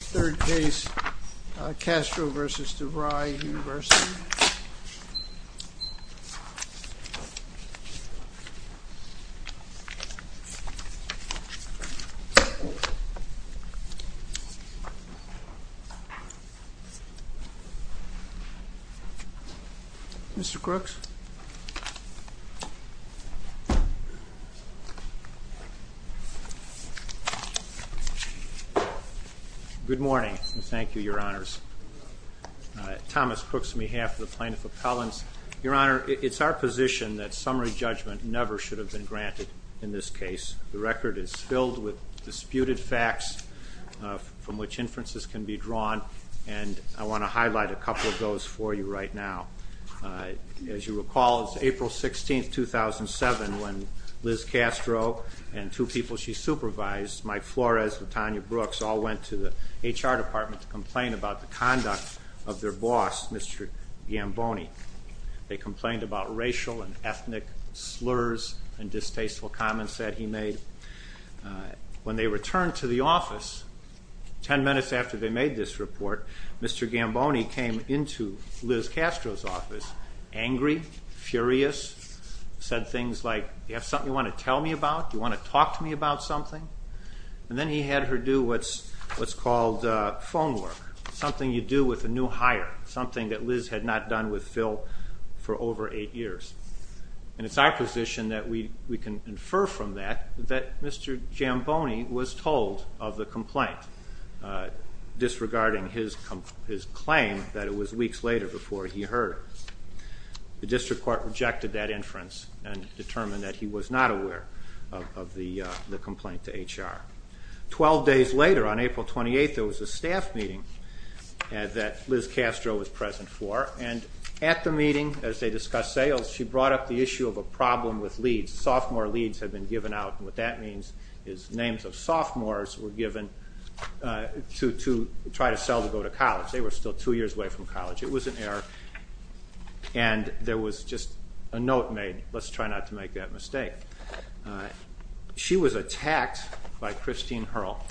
Third case, Castro v. DeVry University. Mr. Crooks. Good morning and thank you, Your Honors. Thomas Crooks on behalf of the Plaintiff Appellants. Your Honor, it's our position that summary judgment never should have been granted in this case. The record is filled with disputed facts from which inferences can be drawn, and I want to highlight a couple of those for you right now. As you recall, it's April 16, 2007, when Liz Castro and two people she supervised, Mike Flores and Tanya Brooks, all went to the HR department to complain about the conduct of their boss, Mr. Gamboni. They complained about racial and ethnic slurs and distasteful comments that he made. When they returned to the office, ten minutes after they made this report, Mr. Gamboni came into Liz Castro's office angry, furious, said things like, Do you have something you want to tell me about? Do you want to talk to me about something? And then he had her do what's called phone work, something you do with a new hire, something that Liz had not done with Phil for over eight years. And it's our position that we can infer from that that Mr. Gamboni was told of the complaint, disregarding his claim that it was weeks later before he heard it. The district court rejected that inference and determined that he was not aware of the complaint to HR. Twelve days later, on April 28, there was a staff meeting that Liz Castro was present for, and at the meeting, as they discussed sales, she brought up the issue of a problem with leads. Sophomore leads had been given out, and what that means is names of sophomores were given to try to sell to go to college. They were still two years away from college. It was an error, and there was just a note made, let's try not to make that mistake. She was attacked by Christine Hurl,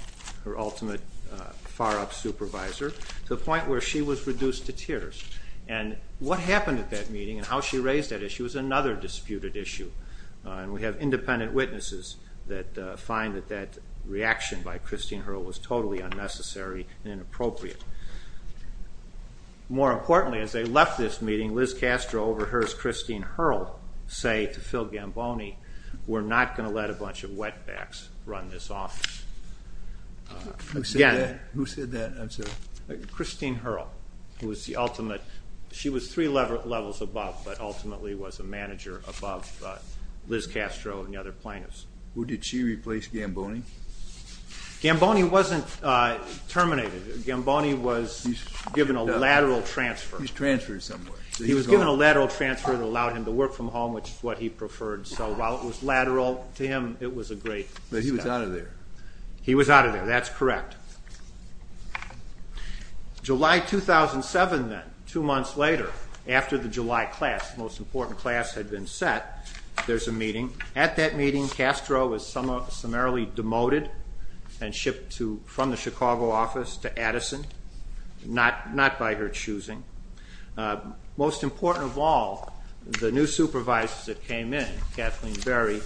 her ultimate far-up supervisor, to the point where she was reduced to tears. And what happened at that meeting and how she raised that issue is another disputed issue, and we have independent witnesses that find that that reaction by Christine Hurl was totally unnecessary and inappropriate. More importantly, as they left this meeting, Liz Castro overheard Christine Hurl say to Phil Gamboni, we're not going to let a bunch of wetbacks run this office. Who said that? Christine Hurl. She was three levels above, but ultimately was a manager above Liz Castro and the other plaintiffs. Did she replace Gamboni? Gamboni wasn't terminated. Gamboni was given a lateral transfer. He was transferred somewhere. He was given a lateral transfer that allowed him to work from home, which is what he preferred. So while it was lateral to him, it was a great step. But he was out of there. He was out of there, that's correct. July 2007 then, two months later, after the July class, the most important class had been set, there's a meeting. At that meeting, Castro was summarily demoted and shipped from the Chicago office to Addison, not by her choosing. Most important of all, the new supervisors that came in, Kathleen Berry,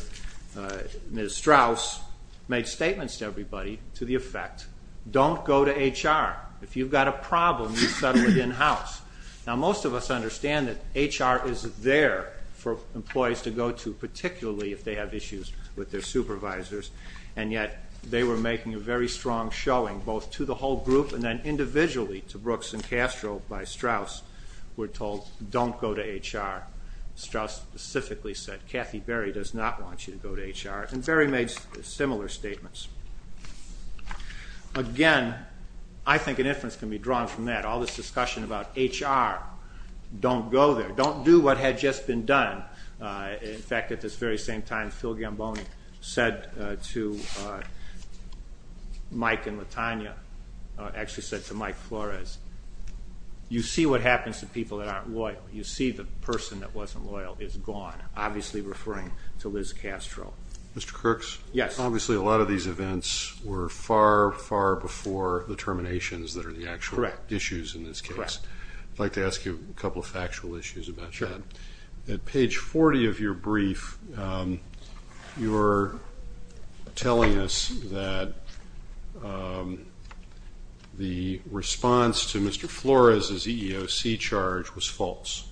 Ms. Strauss, made statements to everybody to the effect, don't go to HR. If you've got a problem, you settle it in-house. Now most of us understand that HR is there for employees to go to, particularly if they have issues with their supervisors, and yet they were making a very strong showing both to the whole group and then individually to Brooks and Castro by Strauss. We're told, don't go to HR. Strauss specifically said, Kathy Berry does not want you to go to HR, and Berry made similar statements. Again, I think an inference can be drawn from that. All this discussion about HR, don't go there. Don't do what had just been done. In fact, at this very same time, Phil Gamboni said to Mike and Latanya, actually said to Mike Flores, you see what happens to people that aren't loyal. You see the person that wasn't loyal is gone, obviously referring to Liz Castro. Mr. Kirks? Yes. Obviously, a lot of these events were far, far before the terminations that are the actual issues in this case. Correct. I'd like to ask you a couple of factual issues about that. Sure. At page 40 of your brief, you're telling us that the response to Mr. Flores' EEOC charge was false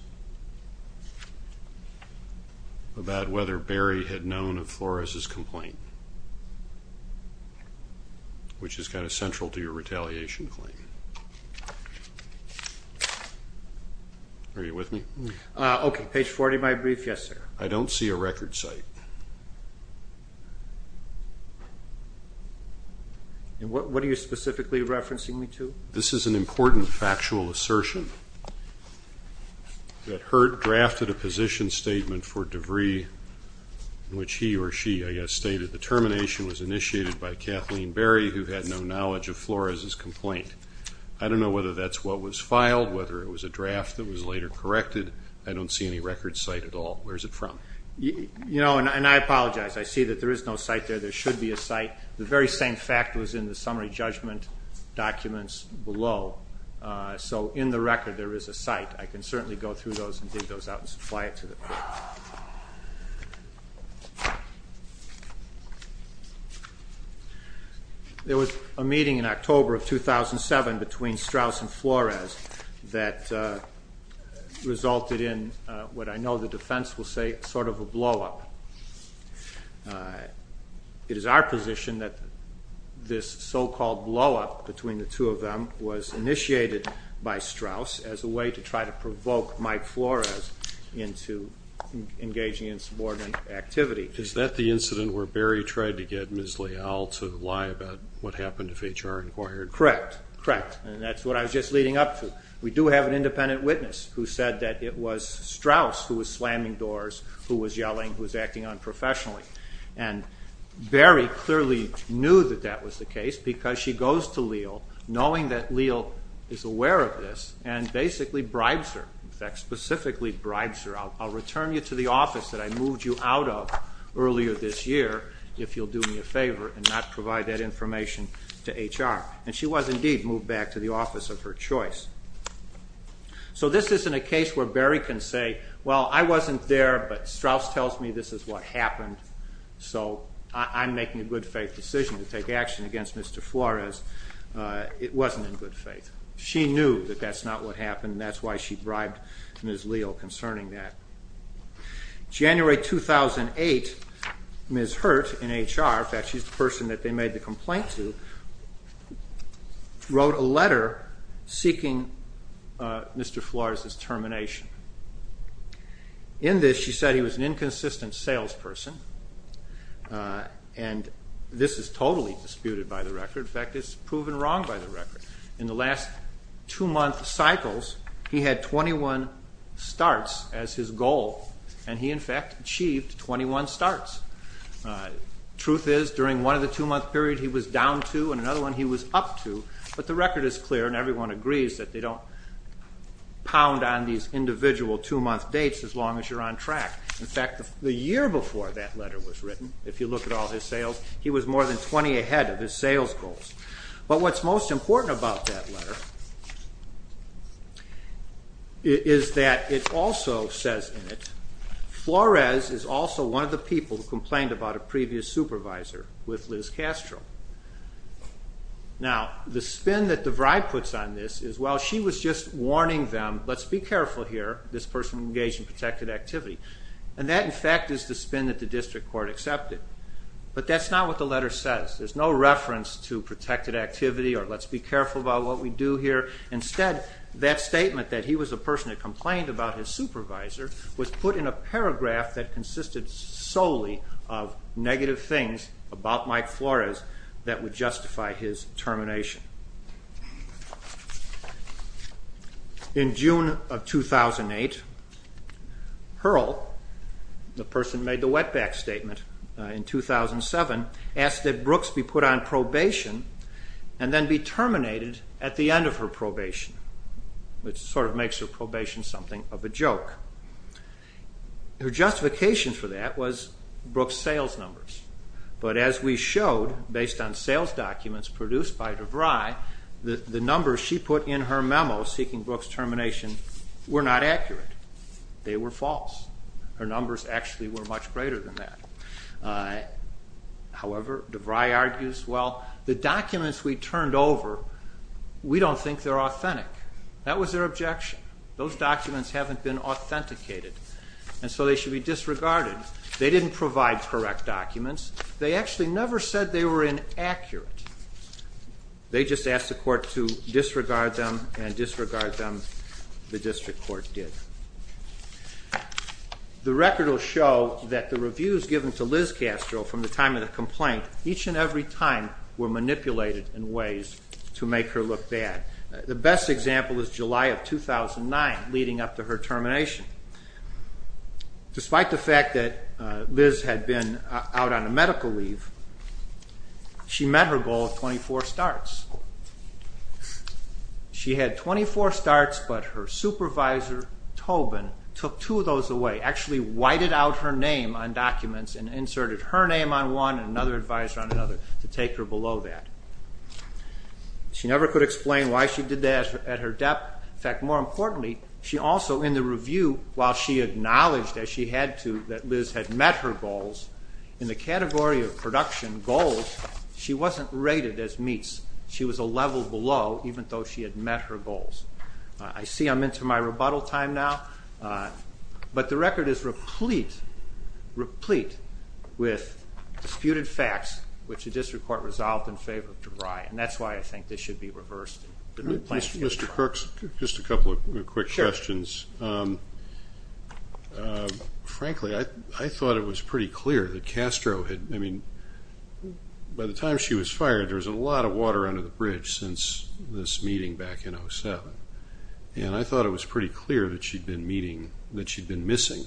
about whether Berry had known of Flores' complaint, which is kind of central to your retaliation claim. Are you with me? Okay. Page 40 of my brief. Yes, sir. I don't see a record site. What are you specifically referencing me to? This is an important factual assertion that Hurt drafted a position statement for DeVry in which he or she, I guess, stated the termination was initiated by Kathleen Berry, who had no knowledge of Flores' complaint. I don't know whether that's what was filed, whether it was a draft that was later corrected. I don't see any record site at all. Where is it from? You know, and I apologize. I see that there is no site there. There should be a site. The very same fact was in the summary judgment documents below. So in the record, there is a site. I can certainly go through those and dig those out and supply it to the court. There was a meeting in October of 2007 between Strauss and Flores that resulted in what I know the defense will say is sort of a blow-up. It is our position that this so-called blow-up between the two of them was initiated by Strauss as a way to try to provoke Mike Flores into engaging in subordinate activity. Is that the incident where Berry tried to get Ms. Leal to lie about what happened to FHR Enquiry? Correct. Correct. And that's what I was just leading up to. We do have an independent witness who said that it was Strauss who was slamming doors, who was yelling, who was acting unprofessionally. And Berry clearly knew that that was the case because she goes to Leal knowing that Leal is aware of this and basically bribes her. In fact, specifically bribes her. I'll return you to the office that I moved you out of earlier this year if you'll do me a favor and not provide that information to HR. And she was indeed moved back to the office of her choice. So this isn't a case where Berry can say, well, I wasn't there but Strauss tells me this is what happened so I'm making a good faith decision to take action against Mr. Flores. It wasn't in good faith. She knew that that's not what happened and that's why she bribed Ms. Leal concerning that. January 2008, Ms. Hurt in HR, in fact she's the person that they made the complaint to, wrote a letter seeking Mr. Flores' termination. In this she said he was an inconsistent salesperson and this is totally disputed by the record. In fact, it's proven wrong by the record. In the last two-month cycles he had 21 starts as his goal and he in fact achieved 21 starts. Truth is during one of the two-month period he was down two and another one he was up two, but the record is clear and everyone agrees that they don't pound on these individual two-month dates as long as you're on track. In fact, the year before that letter was written, if you look at all his sales, he was more than 20 ahead of his sales goals. But what's most important about that letter is that it also says in it, Flores is also one of the people who complained about a previous supervisor with Liz Castro. Now, the spin that the bribe puts on this is while she was just warning them, let's be careful here, this person engaged in protected activity, and that in fact is the spin that the district court accepted. But that's not what the letter says. There's no reference to protected activity or let's be careful about what we do here. Instead, that statement that he was a person who complained about his supervisor was put in a paragraph that consisted solely of negative things about Mike Flores that would justify his termination. In June of 2008, Hurl, the person who made the wetback statement in 2007, asked that Brooks be put on probation and then be terminated at the end of her probation, which sort of makes her probation something of a joke. Her justification for that was Brooks' sales numbers. But as we showed, based on sales documents produced by DeVry, the numbers she put in her memo seeking Brooks' termination were not accurate. They were false. Her numbers actually were much greater than that. However, DeVry argues, well, the documents we turned over, we don't think they're authentic. That was their objection. Those documents haven't been authenticated, and so they should be disregarded. They didn't provide correct documents. They actually never said they were inaccurate. They just asked the court to disregard them, and disregard them, the district court did. The record will show that the reviews given to Liz Castro from the time of the complaint each and every time were manipulated in ways to make her look bad. The best example is July of 2009, leading up to her termination. Despite the fact that Liz had been out on a medical leave, she met her goal of 24 starts. She had 24 starts, but her supervisor, Tobin, took two of those away, actually whited out her name on documents and inserted her name on one and another advisor on another to take her below that. She never could explain why she did that at her depth. In fact, more importantly, she also, in the review, while she acknowledged that she had to, that Liz had met her goals, in the category of production goals, she wasn't rated as meets. She was a level below, even though she had met her goals. I see I'm into my rebuttal time now, but the record is replete with disputed facts which the district court resolved in favor of DeVry, and that's why I think this should be reversed. Mr. Crooks, just a couple of quick questions. Frankly, I thought it was pretty clear that Castro had, I mean, by the time she was fired, there was a lot of water under the bridge since this meeting back in 07. And I thought it was pretty clear that she'd been meeting, that she'd been missing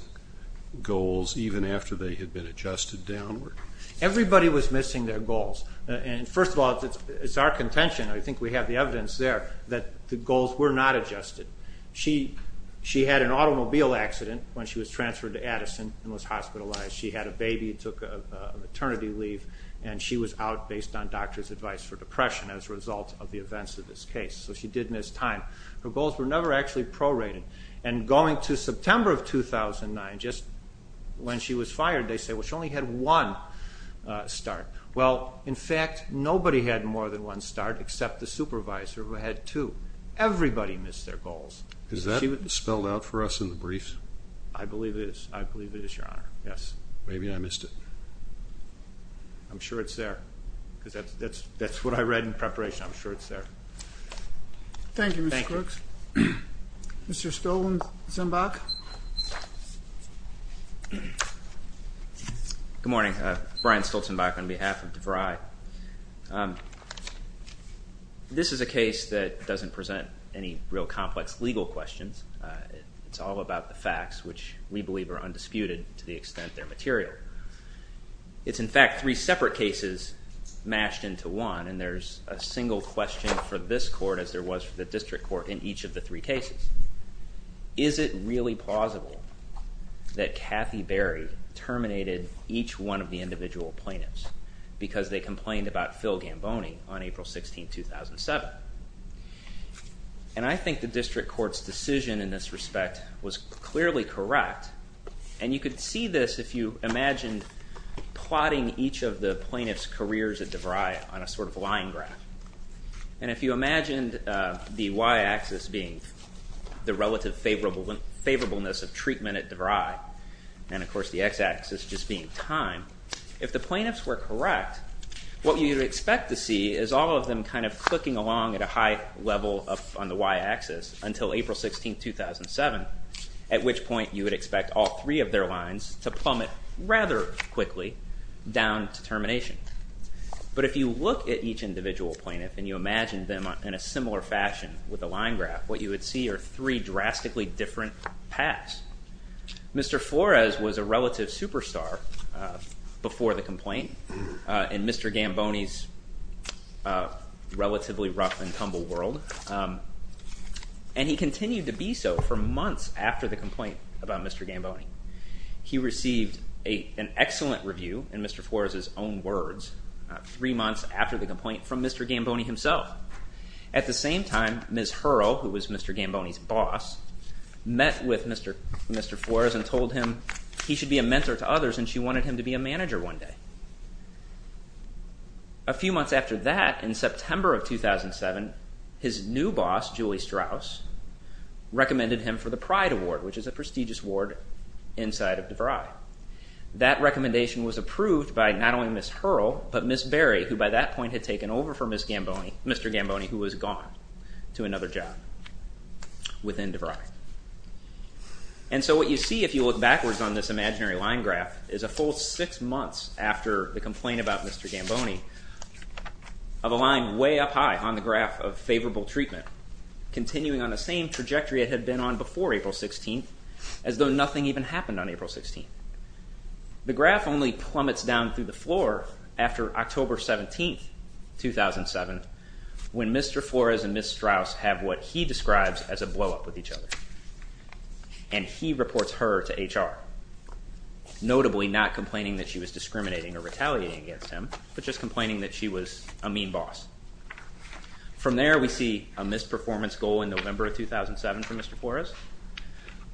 goals even after they had been adjusted downward. Everybody was missing their goals. And first of all, it's our contention, I think we have the evidence there, that the goals were not adjusted. She had an automobile accident when she was transferred to Addison and was hospitalized. She had a baby, took a maternity leave, and she was out based on doctor's advice for depression as a result of the events of this case. So she did miss time. Her goals were never actually prorated. And going to September of 2009, just when she was fired, they say, well, she only had one start. Well, in fact, nobody had more than one start except the supervisor who had two. Everybody missed their goals. Is that spelled out for us in the brief? I believe it is. I believe it is, Your Honor. Yes. Maybe I missed it. I'm sure it's there because that's what I read in preparation. I'm sure it's there. Thank you, Mr. Crooks. Mr. Stoltenbach. Good morning. Brian Stoltenbach on behalf of DeVry. This is a case that doesn't present any real complex legal questions. It's all about the facts, which we believe are undisputed to the extent they're material. It's, in fact, three separate cases mashed into one, and there's a single question for this court as there was for the district court in each of the three cases. Is it really plausible that Kathy Berry terminated each one of the individual plaintiffs because they complained about Phil Gamboni on April 16, 2007? And I think the district court's decision in this respect was clearly correct. And you could see this if you imagined plotting each of the plaintiffs' careers at DeVry on a sort of line graph. And if you imagined the y-axis being the relative favorableness of treatment at DeVry, and, of course, the x-axis just being time, if the plaintiffs were correct, what you'd expect to see is all of them kind of clicking along at a high level on the y-axis until April 16, 2007, at which point you would expect all three of their lines to plummet rather quickly down to termination. But if you look at each individual plaintiff and you imagine them in a similar fashion with a line graph, what you would see are three drastically different paths. Mr. Flores was a relative superstar before the complaint in Mr. Gamboni's relatively rough and tumble world, and he continued to be so for months after the complaint about Mr. Gamboni. He received an excellent review, in Mr. Flores's own words, three months after the complaint from Mr. Gamboni himself. At the same time, Ms. Hurrell, who was Mr. Gamboni's boss, met with Mr. Flores and told him he should be a mentor to others and she wanted him to be a manager one day. A few months after that, in September of 2007, his new boss, Julie Strauss, recommended him for the Pride Award, which is a prestigious award inside of DeVry. That recommendation was approved by not only Ms. Hurrell, but Ms. Berry, who by that point had taken over for Mr. Gamboni, who was gone to another job within DeVry. And so what you see, if you look backwards on this imaginary line graph, is a full six months after the complaint about Mr. Gamboni of a line way up high on the graph of favorable treatment, continuing on the same trajectory it had been on before April 16th, as though nothing even happened on April 16th. The graph only plummets down through the floor after October 17th, 2007, when Mr. Flores and Ms. Strauss have what he describes as a blow-up with each other. And he reports her to HR, notably not complaining that she was discriminating or retaliating against him, but just complaining that she was a mean boss. From there we see a missed performance goal in November of 2007 for Mr. Flores.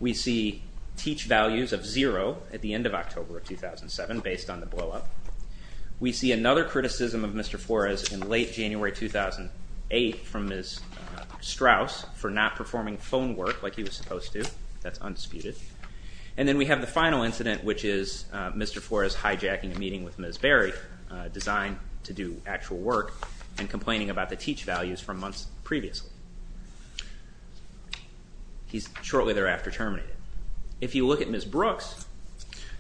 We see teach values of zero at the end of October of 2007, based on the blow-up. We see another criticism of Mr. Flores in late January 2008 from Ms. Strauss for not performing phone work like he was supposed to. That's undisputed. And then we have the final incident, which is Mr. Flores hijacking a meeting with Ms. Berry, designed to do actual work, and complaining about the teach values from months previously. He's shortly thereafter terminated. If you look at Ms. Brooks.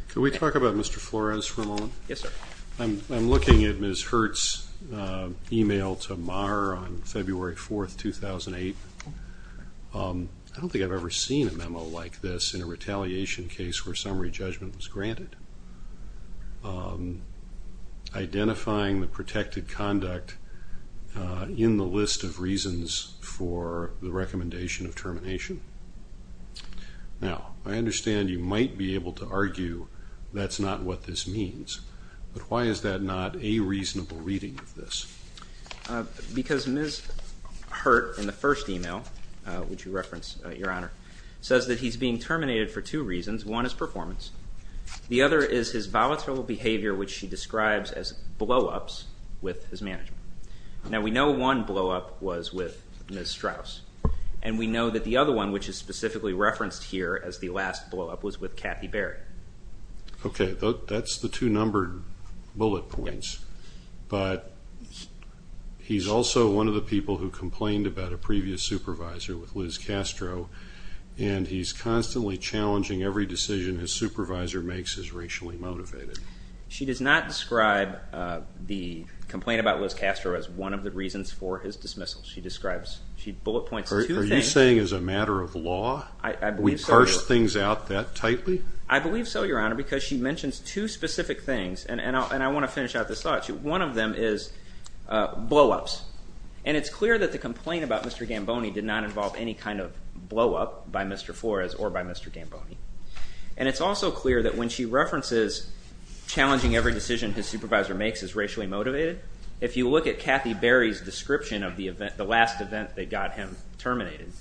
Can we talk about Mr. Flores for a moment? Yes, sir. I'm looking at Ms. Hurt's email to Marr on February 4th, 2008. I don't think I've ever seen a memo like this in a retaliation case where summary judgment was granted, identifying the protected conduct in the list of reasons for the recommendation of termination. Now, I understand you might be able to argue that's not what this means, but why is that not a reasonable reading of this? Because Ms. Hurt in the first email, which you referenced, Your Honor, says that he's being terminated for two reasons. One is performance. The other is his volatile behavior, which she describes as blow-ups with his management. Now, we know one blow-up was with Ms. Strauss, and we know that the other one, which is specifically referenced here as the last blow-up, was with Kathy Berry. Okay, that's the two numbered bullet points. But he's also one of the people who complained about a previous supervisor with Liz Castro, and he's constantly challenging every decision his supervisor makes is racially motivated. She does not describe the complaint about Liz Castro as one of the reasons for his dismissal. She describes, she bullet points two things. Are you saying as a matter of law we parse things out that tightly? I believe so, Your Honor, because she mentions two specific things, and I want to finish out this thought. One of them is blow-ups. And it's clear that the complaint about Mr. Gamboni did not involve any kind of blow-up by Mr. Flores or by Mr. Gamboni. And it's also clear that when she references challenging every decision his supervisor makes is racially motivated, if you look at Kathy Berry's description of the last event that got him terminated,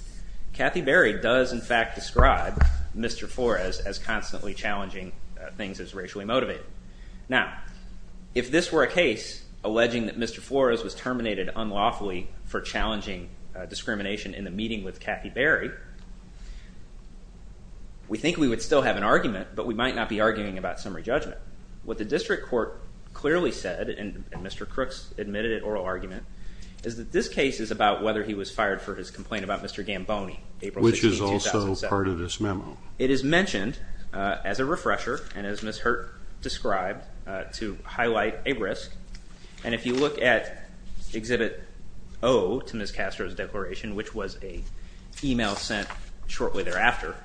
Kathy Berry does, in fact, describe Mr. Flores as constantly challenging things that's racially motivated. Now, if this were a case alleging that Mr. Flores was terminated unlawfully for challenging discrimination in the meeting with Kathy Berry, we think we would still have an argument, but we might not be arguing about summary judgment. What the district court clearly said, and Mr. Crooks admitted it, oral argument, is that this case is about whether he was fired for his complaint about Mr. Gamboni, April 16, 2007. Which is also part of this memo. It is mentioned as a refresher, and as Ms. Hurt described, to highlight a risk. And if you look at Exhibit O to Ms. Castro's declaration, which was an email sent shortly thereafter,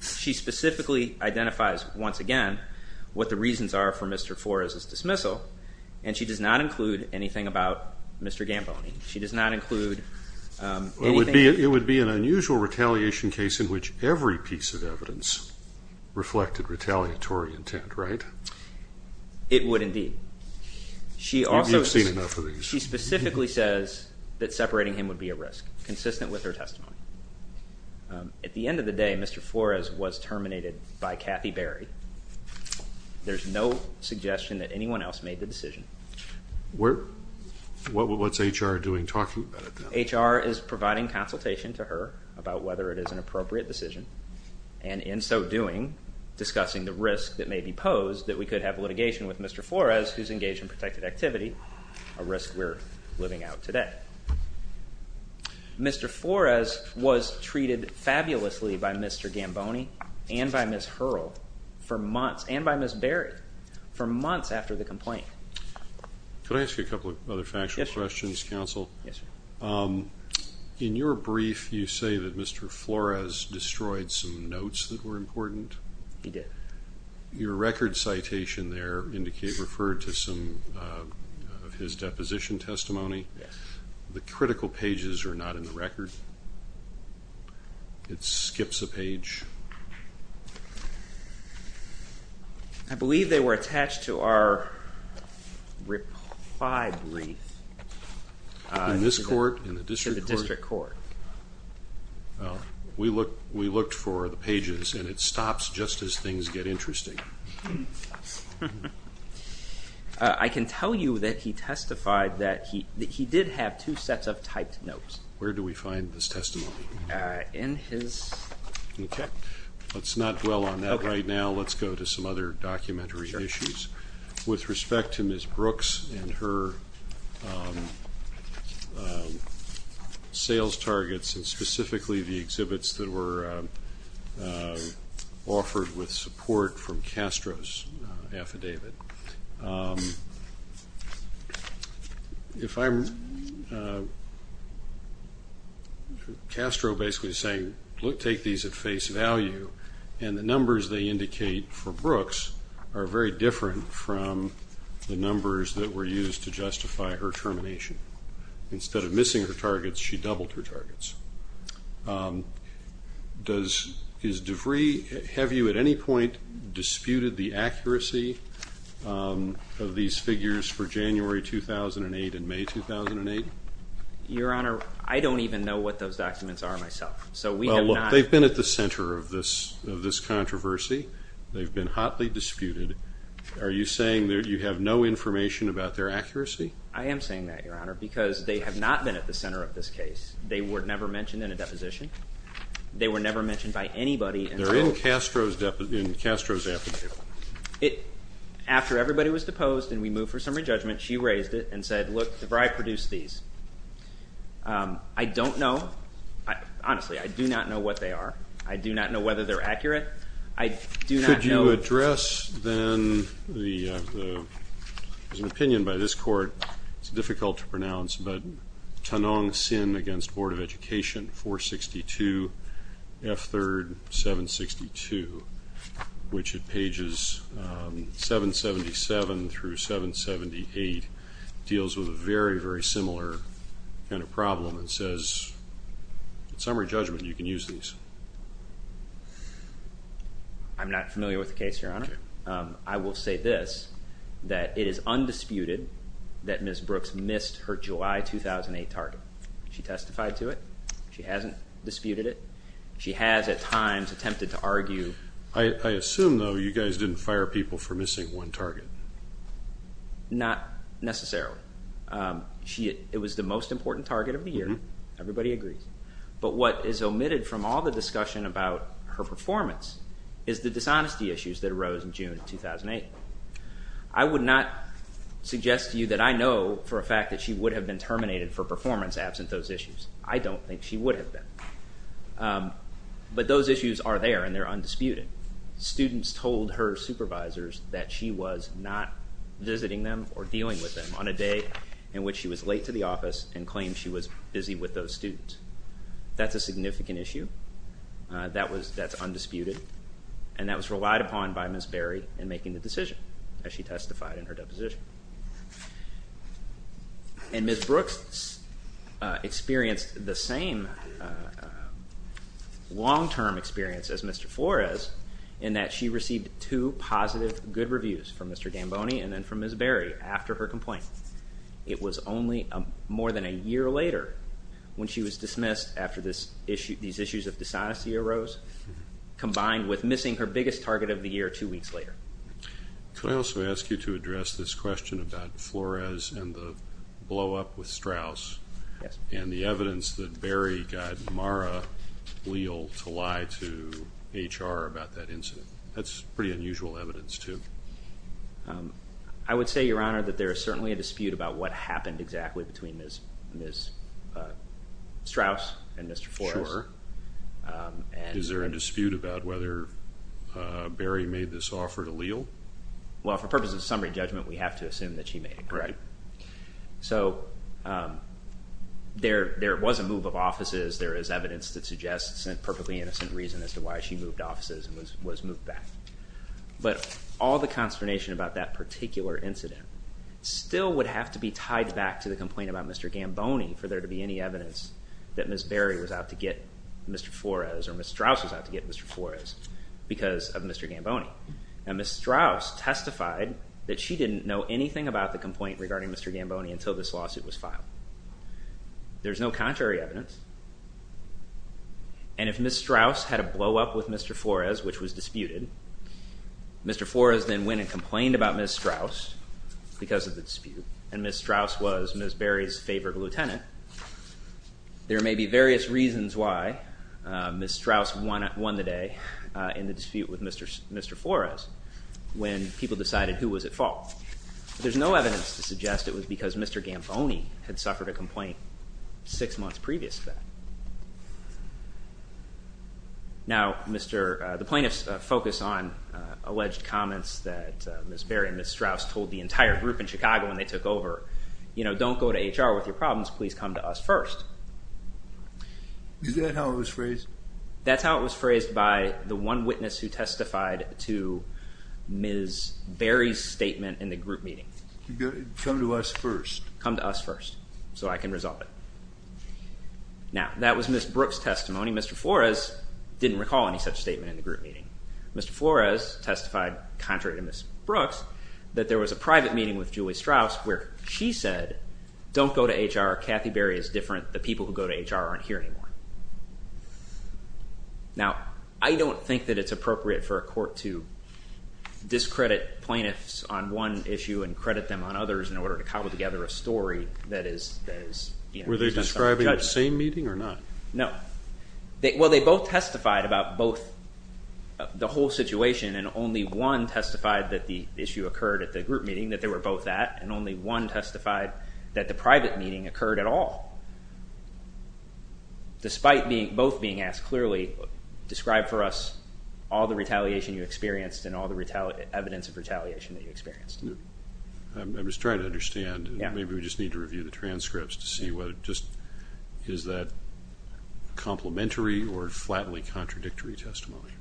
she specifically identifies once again what the reasons are for Mr. Flores' dismissal, and she does not include anything about Mr. Gamboni. She does not include anything... It would be an unusual retaliation case in which every piece of evidence reflected retaliatory intent, right? It would indeed. You've seen enough of these. She specifically says that separating him would be a risk, consistent with her testimony. At the end of the day, Mr. Flores was terminated by Kathy Berry. There's no suggestion that anyone else made the decision. What's HR doing talking about it? HR is providing consultation to her about whether it is an appropriate decision, and in so doing, discussing the risk that may be posed that we could have litigation with Mr. Flores, who's engaged in protected activity, a risk we're living out today. Mr. Flores was treated fabulously by Mr. Gamboni and by Ms. Hurrell for months, and by Ms. Berry for months after the complaint. Could I ask you a couple of other factual questions, counsel? Yes, sir. In your brief, you say that Mr. Flores destroyed some notes that were important. He did. Your record citation there referred to some of his deposition testimony. Yes. The critical pages are not in the record. It skips a page. I believe they were attached to our reply brief. In the district court. We looked for the pages, and it stops just as things get interesting. I can tell you that he testified that he did have two sets of typed notes. Where do we find this testimony? In his... Okay. Let's not dwell on that right now. Let's go to some other documentary issues. With respect to Ms. Brooks and her sales targets, and specifically the exhibits that were offered with support from Castro's affidavit. Castro basically is saying, take these at face value, and the numbers they indicate for Brooks are very different from the numbers that were used to justify her termination. Instead of missing her targets, she doubled her targets. Does DeVry... Have you at any point disputed the accuracy of these figures for January 2008 and May 2008? Your Honor, I don't even know what those documents are myself. They've been at the center of this controversy. They've been hotly disputed. Are you saying that you have no information about their accuracy? I am saying that, Your Honor, because they have not been at the center of this case. They were never mentioned in a deposition. They were never mentioned by anybody. They're in Castro's affidavit. After everybody was deposed and we moved for summary judgment, she raised it and said, look, DeVry produced these. I don't know. Honestly, I do not know what they are. I do not know whether they're accurate. I do not know... Could you address, then, the... There's an opinion by this court. It's difficult to pronounce, but Tanong Sin against Board of Education, 462 F3rd 762, which at pages 777 through 778 deals with a very, very similar kind of problem and says, in summary judgment, you can use these. I'm not familiar with the case, Your Honor. I will say this, that it is undisputed that Ms. Brooks missed her July 2008 target. She testified to it. She hasn't disputed it. She has, at times, attempted to argue... I assume, though, you guys didn't fire people for missing one target. Not necessarily. It was the most important target of the year. Everybody agrees. But what is omitted from all the discussion about her performance is the dishonesty issues that arose in June 2008. I would not suggest to you that I know for a fact that she would have been terminated for performance absent those issues. I don't think she would have been. But those issues are there, and they're undisputed. Students told her supervisors that she was not visiting them or dealing with them on a day in which she was late to the office and claimed she was busy with those students. That's a significant issue. That's undisputed. And that was relied upon by Ms. Berry in making the decision, as she testified in her deposition. And Ms. Brooks experienced the same long-term experience as Mr. Flores in that she received two positive good reviews from Mr. Damboni and then from Ms. Berry after her complaint. It was only more than a year later when she was dismissed after these issues of dishonesty arose, combined with missing her biggest target of the year two weeks later. Could I also ask you to address this question about Flores and the blow-up with Strauss and the evidence that Berry got Mara Leal to lie to HR about that incident? That's pretty unusual evidence, too. I would say, Your Honor, that there is certainly a dispute about what happened exactly between Ms. Strauss and Mr. Flores. Is there a dispute about whether Berry made this offer to Leal? Well, for purposes of summary judgment, we have to assume that she made it. Right. So there was a move of offices. There is evidence that suggests a perfectly innocent reason as to why she moved offices and was moved back. But all the consternation about that particular incident still would have to be tied back to the complaint about Mr. Damboni for there to be any evidence that Ms. Berry was out to get Mr. Flores or Ms. Strauss was out to get Mr. Flores because of Mr. Damboni. Now, Ms. Strauss testified that she didn't know anything about the complaint regarding Mr. Damboni until this lawsuit was filed. There's no contrary evidence. And if Ms. Strauss had a blow-up with Mr. Flores, which was disputed, Mr. Flores then went and complained about Ms. Strauss because of the dispute, and Ms. Strauss was Ms. Berry's favorite lieutenant. There may be various reasons why Ms. Strauss won the day in the dispute with Mr. Flores when people decided who was at fault. There's no evidence to suggest it was because Mr. Damboni had suffered a complaint six months previous to that. Now, the plaintiffs focus on alleged comments that Ms. Berry and Ms. Strauss told the entire group in Chicago when they took over, you know, don't go to HR with your problems, please come to us first. Is that how it was phrased? That's how it was phrased by the one witness who testified to Ms. Berry's statement in the group meeting. Come to us first. Come to us first so I can resolve it. Now, that was Ms. Brooks' testimony. Mr. Flores didn't recall any such statement in the group meeting. Mr. Flores testified contrary to Ms. Brooks that there was a private meeting with Julie Strauss where she said, don't go to HR, Kathy Berry is different, the people who go to HR aren't here anymore. Now, I don't think that it's appropriate for a court to discredit plaintiffs on one issue and credit them on others in order to cobble together a story that is, you know, Were they describing the same meeting or not? No. Well, they both testified about both the whole situation and only one testified that the issue occurred at the group meeting that they were both at and only one testified that the private meeting occurred at all. Despite both being asked clearly, describe for us all the retaliation you experienced and all the evidence of retaliation that you experienced. I'm just trying to understand. Maybe we just need to review the transcripts to see what it just, is that complimentary or flatly contradictory testimony?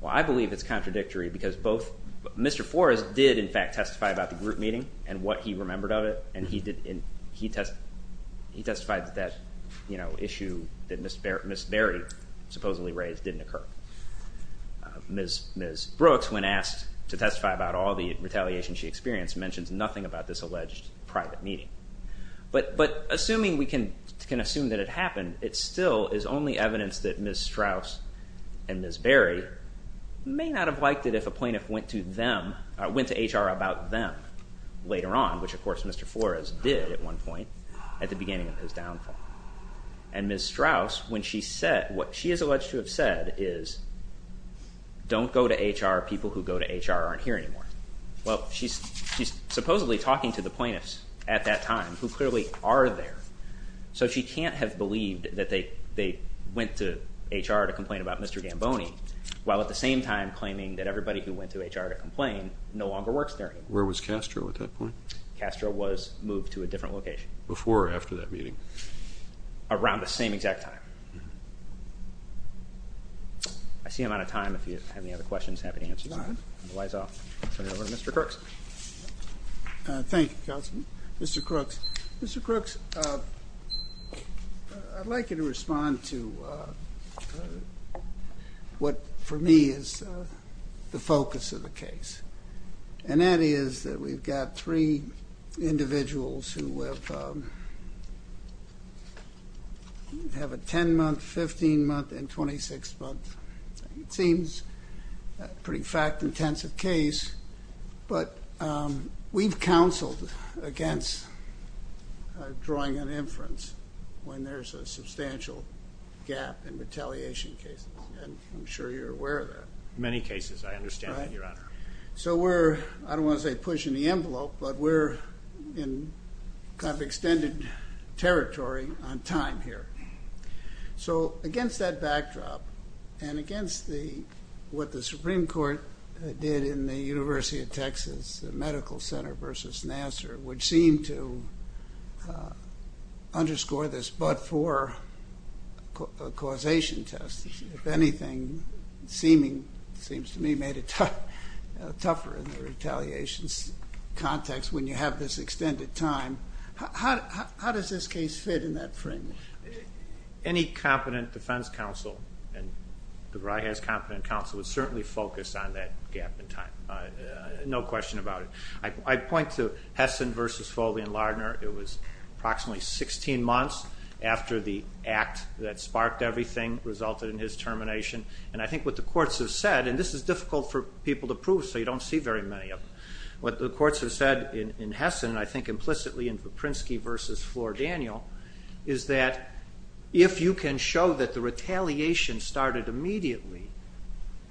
Well, I believe it's contradictory because both, Mr. Flores did, in fact, testify about the group meeting and what he remembered of it and he did, he testified that, you know, issue that Ms. Berry supposedly raised didn't occur. Ms. Brooks, when asked to testify about all the retaliation she experienced, mentions nothing about this alleged private meeting. But assuming we can assume that it happened, it still is only evidence that Ms. Strauss and Ms. Berry may not have liked it if a plaintiff went to HR about them later on, which, of course, Mr. Flores did at one point at the beginning of his downfall. And Ms. Strauss, when she said, what she is alleged to have said is, don't go to HR, people who go to HR aren't here anymore. Well, she's supposedly talking to the plaintiffs at that time who clearly are there. So she can't have believed that they went to HR to complain about Mr. Gamboni while at the same time claiming that everybody who went to HR to complain no longer works there anymore. Where was Castro at that point? Castro was moved to a different location. Before or after that meeting? Around the same exact time. I see I'm out of time. If you have any other questions, happy to answer them. If not, I'll turn it over to Mr. Crooks. Thank you, Counselor. Mr. Crooks, I'd like you to respond to what for me is the focus of the case, and that is that we've got three individuals who have a 10-month, 15-month, and 26-month. It seems a pretty fact-intensive case, but we've counseled against drawing an inference when there's a substantial gap in retaliation cases, and I'm sure you're aware of that. Many cases, I understand that, Your Honor. So we're, I don't want to say pushing the envelope, but we're in kind of extended territory on time here. So against that backdrop and against what the Supreme Court did in the University of Texas, the Medical Center versus Nassar, which seemed to underscore this but-for causation test, if anything, seems to me made it tougher in the retaliation context when you have this extended time. How does this case fit in that frame? Any competent defense counsel, and DeVry has competent counsel, would certainly focus on that gap in time. No question about it. I'd point to Hessen versus Foley and Lardner. It was approximately 16 months after the act that sparked everything resulted in his termination, and I think what the courts have said, and this is difficult for people to prove, so you don't see very many of them. What the courts have said in Hessen, and I think implicitly in Viprinsky versus Flor-Daniel, is that if you can show that the retaliation started immediately,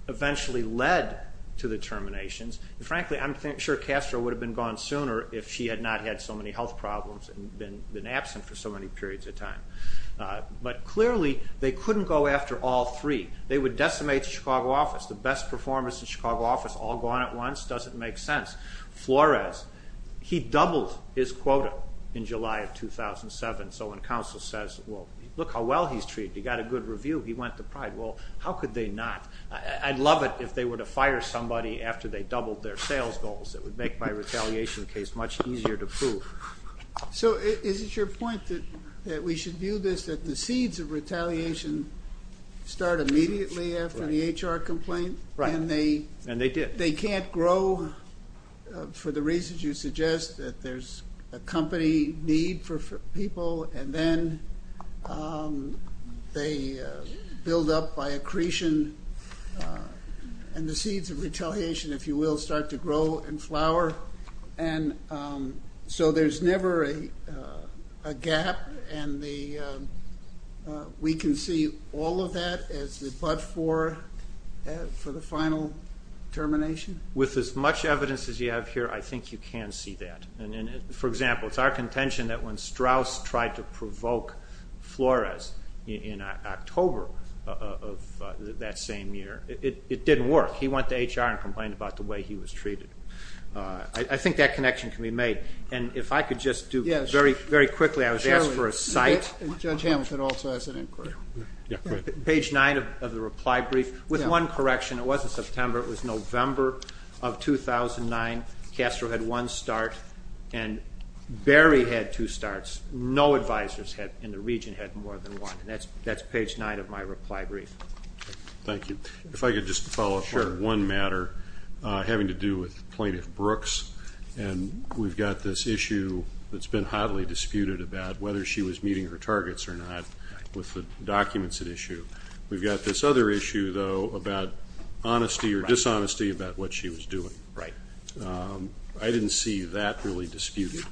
eventually led to the terminations, and frankly I'm sure Castro would have been gone sooner if she had not had so many health problems and been absent for so many periods of time, but clearly they couldn't go after all three. They would decimate the Chicago office. The best performance in Chicago office all gone at once doesn't make sense. Flores, he doubled his quota in July of 2007, so when counsel says, well, look how well he's treated. He got a good review. He went to pride. Well, how could they not? I'd love it if they were to fire somebody after they doubled their sales goals. It would make my retaliation case much easier to prove. So is it your point that we should do this, that the seeds of retaliation start immediately after the HR complaint? Right, and they did. They can't grow for the reasons you suggest, that there's a company need for people, and then they build up by accretion, and the seeds of retaliation, if you will, start to grow and flower. And we can see all of that as the bud for the final termination? With as much evidence as you have here, I think you can see that. For example, it's our contention that when Strauss tried to provoke Flores in October of that same year, it didn't work. He went to HR and complained about the way he was treated. I think that connection can be made. And if I could just do very quickly, I was asked for a cite. Judge Hamilton also has an inquiry. Page 9 of the reply brief, with one correction. It wasn't September. It was November of 2009. Castro had one start, and Berry had two starts. No advisors in the region had more than one. And that's page 9 of my reply brief. Thank you. If I could just follow up on one matter having to do with Plaintiff Brooks. And we've got this issue that's been hotly disputed about whether she was meeting her targets or not with the documents at issue. We've got this other issue, though, about honesty or dishonesty about what she was doing. Right. I didn't see that really disputed.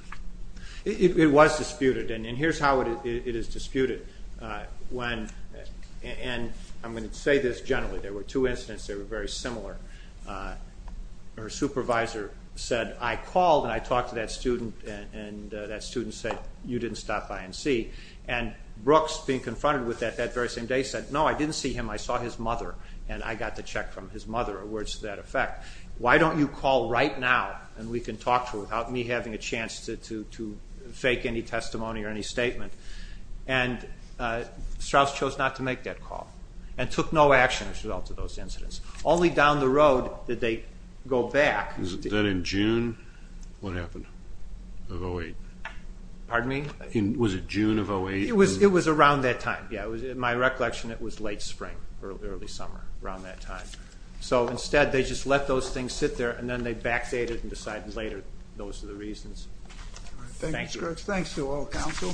It was disputed. And here's how it is disputed. And I'm going to say this generally. There were two incidents that were very similar. Her supervisor said, I called and I talked to that student, and that student said, you didn't stop by and see. And Brooks, being confronted with that that very same day, said, no, I didn't see him. I saw his mother, and I got the check from his mother, or words to that effect. Why don't you call right now and we can talk to her without me having a chance to fake any testimony or any statement? And Strauss chose not to make that call and took no action as a result of those incidents. Only down the road did they go back. Was that in June? What happened? Of 08? Pardon me? Was it June of 08? It was around that time. In my recollection, it was late spring, early summer, around that time. So instead, they just let those things sit there, and then they backstated and decided later. Those are the reasons. Thanks, Brooks. Thanks to all counsel.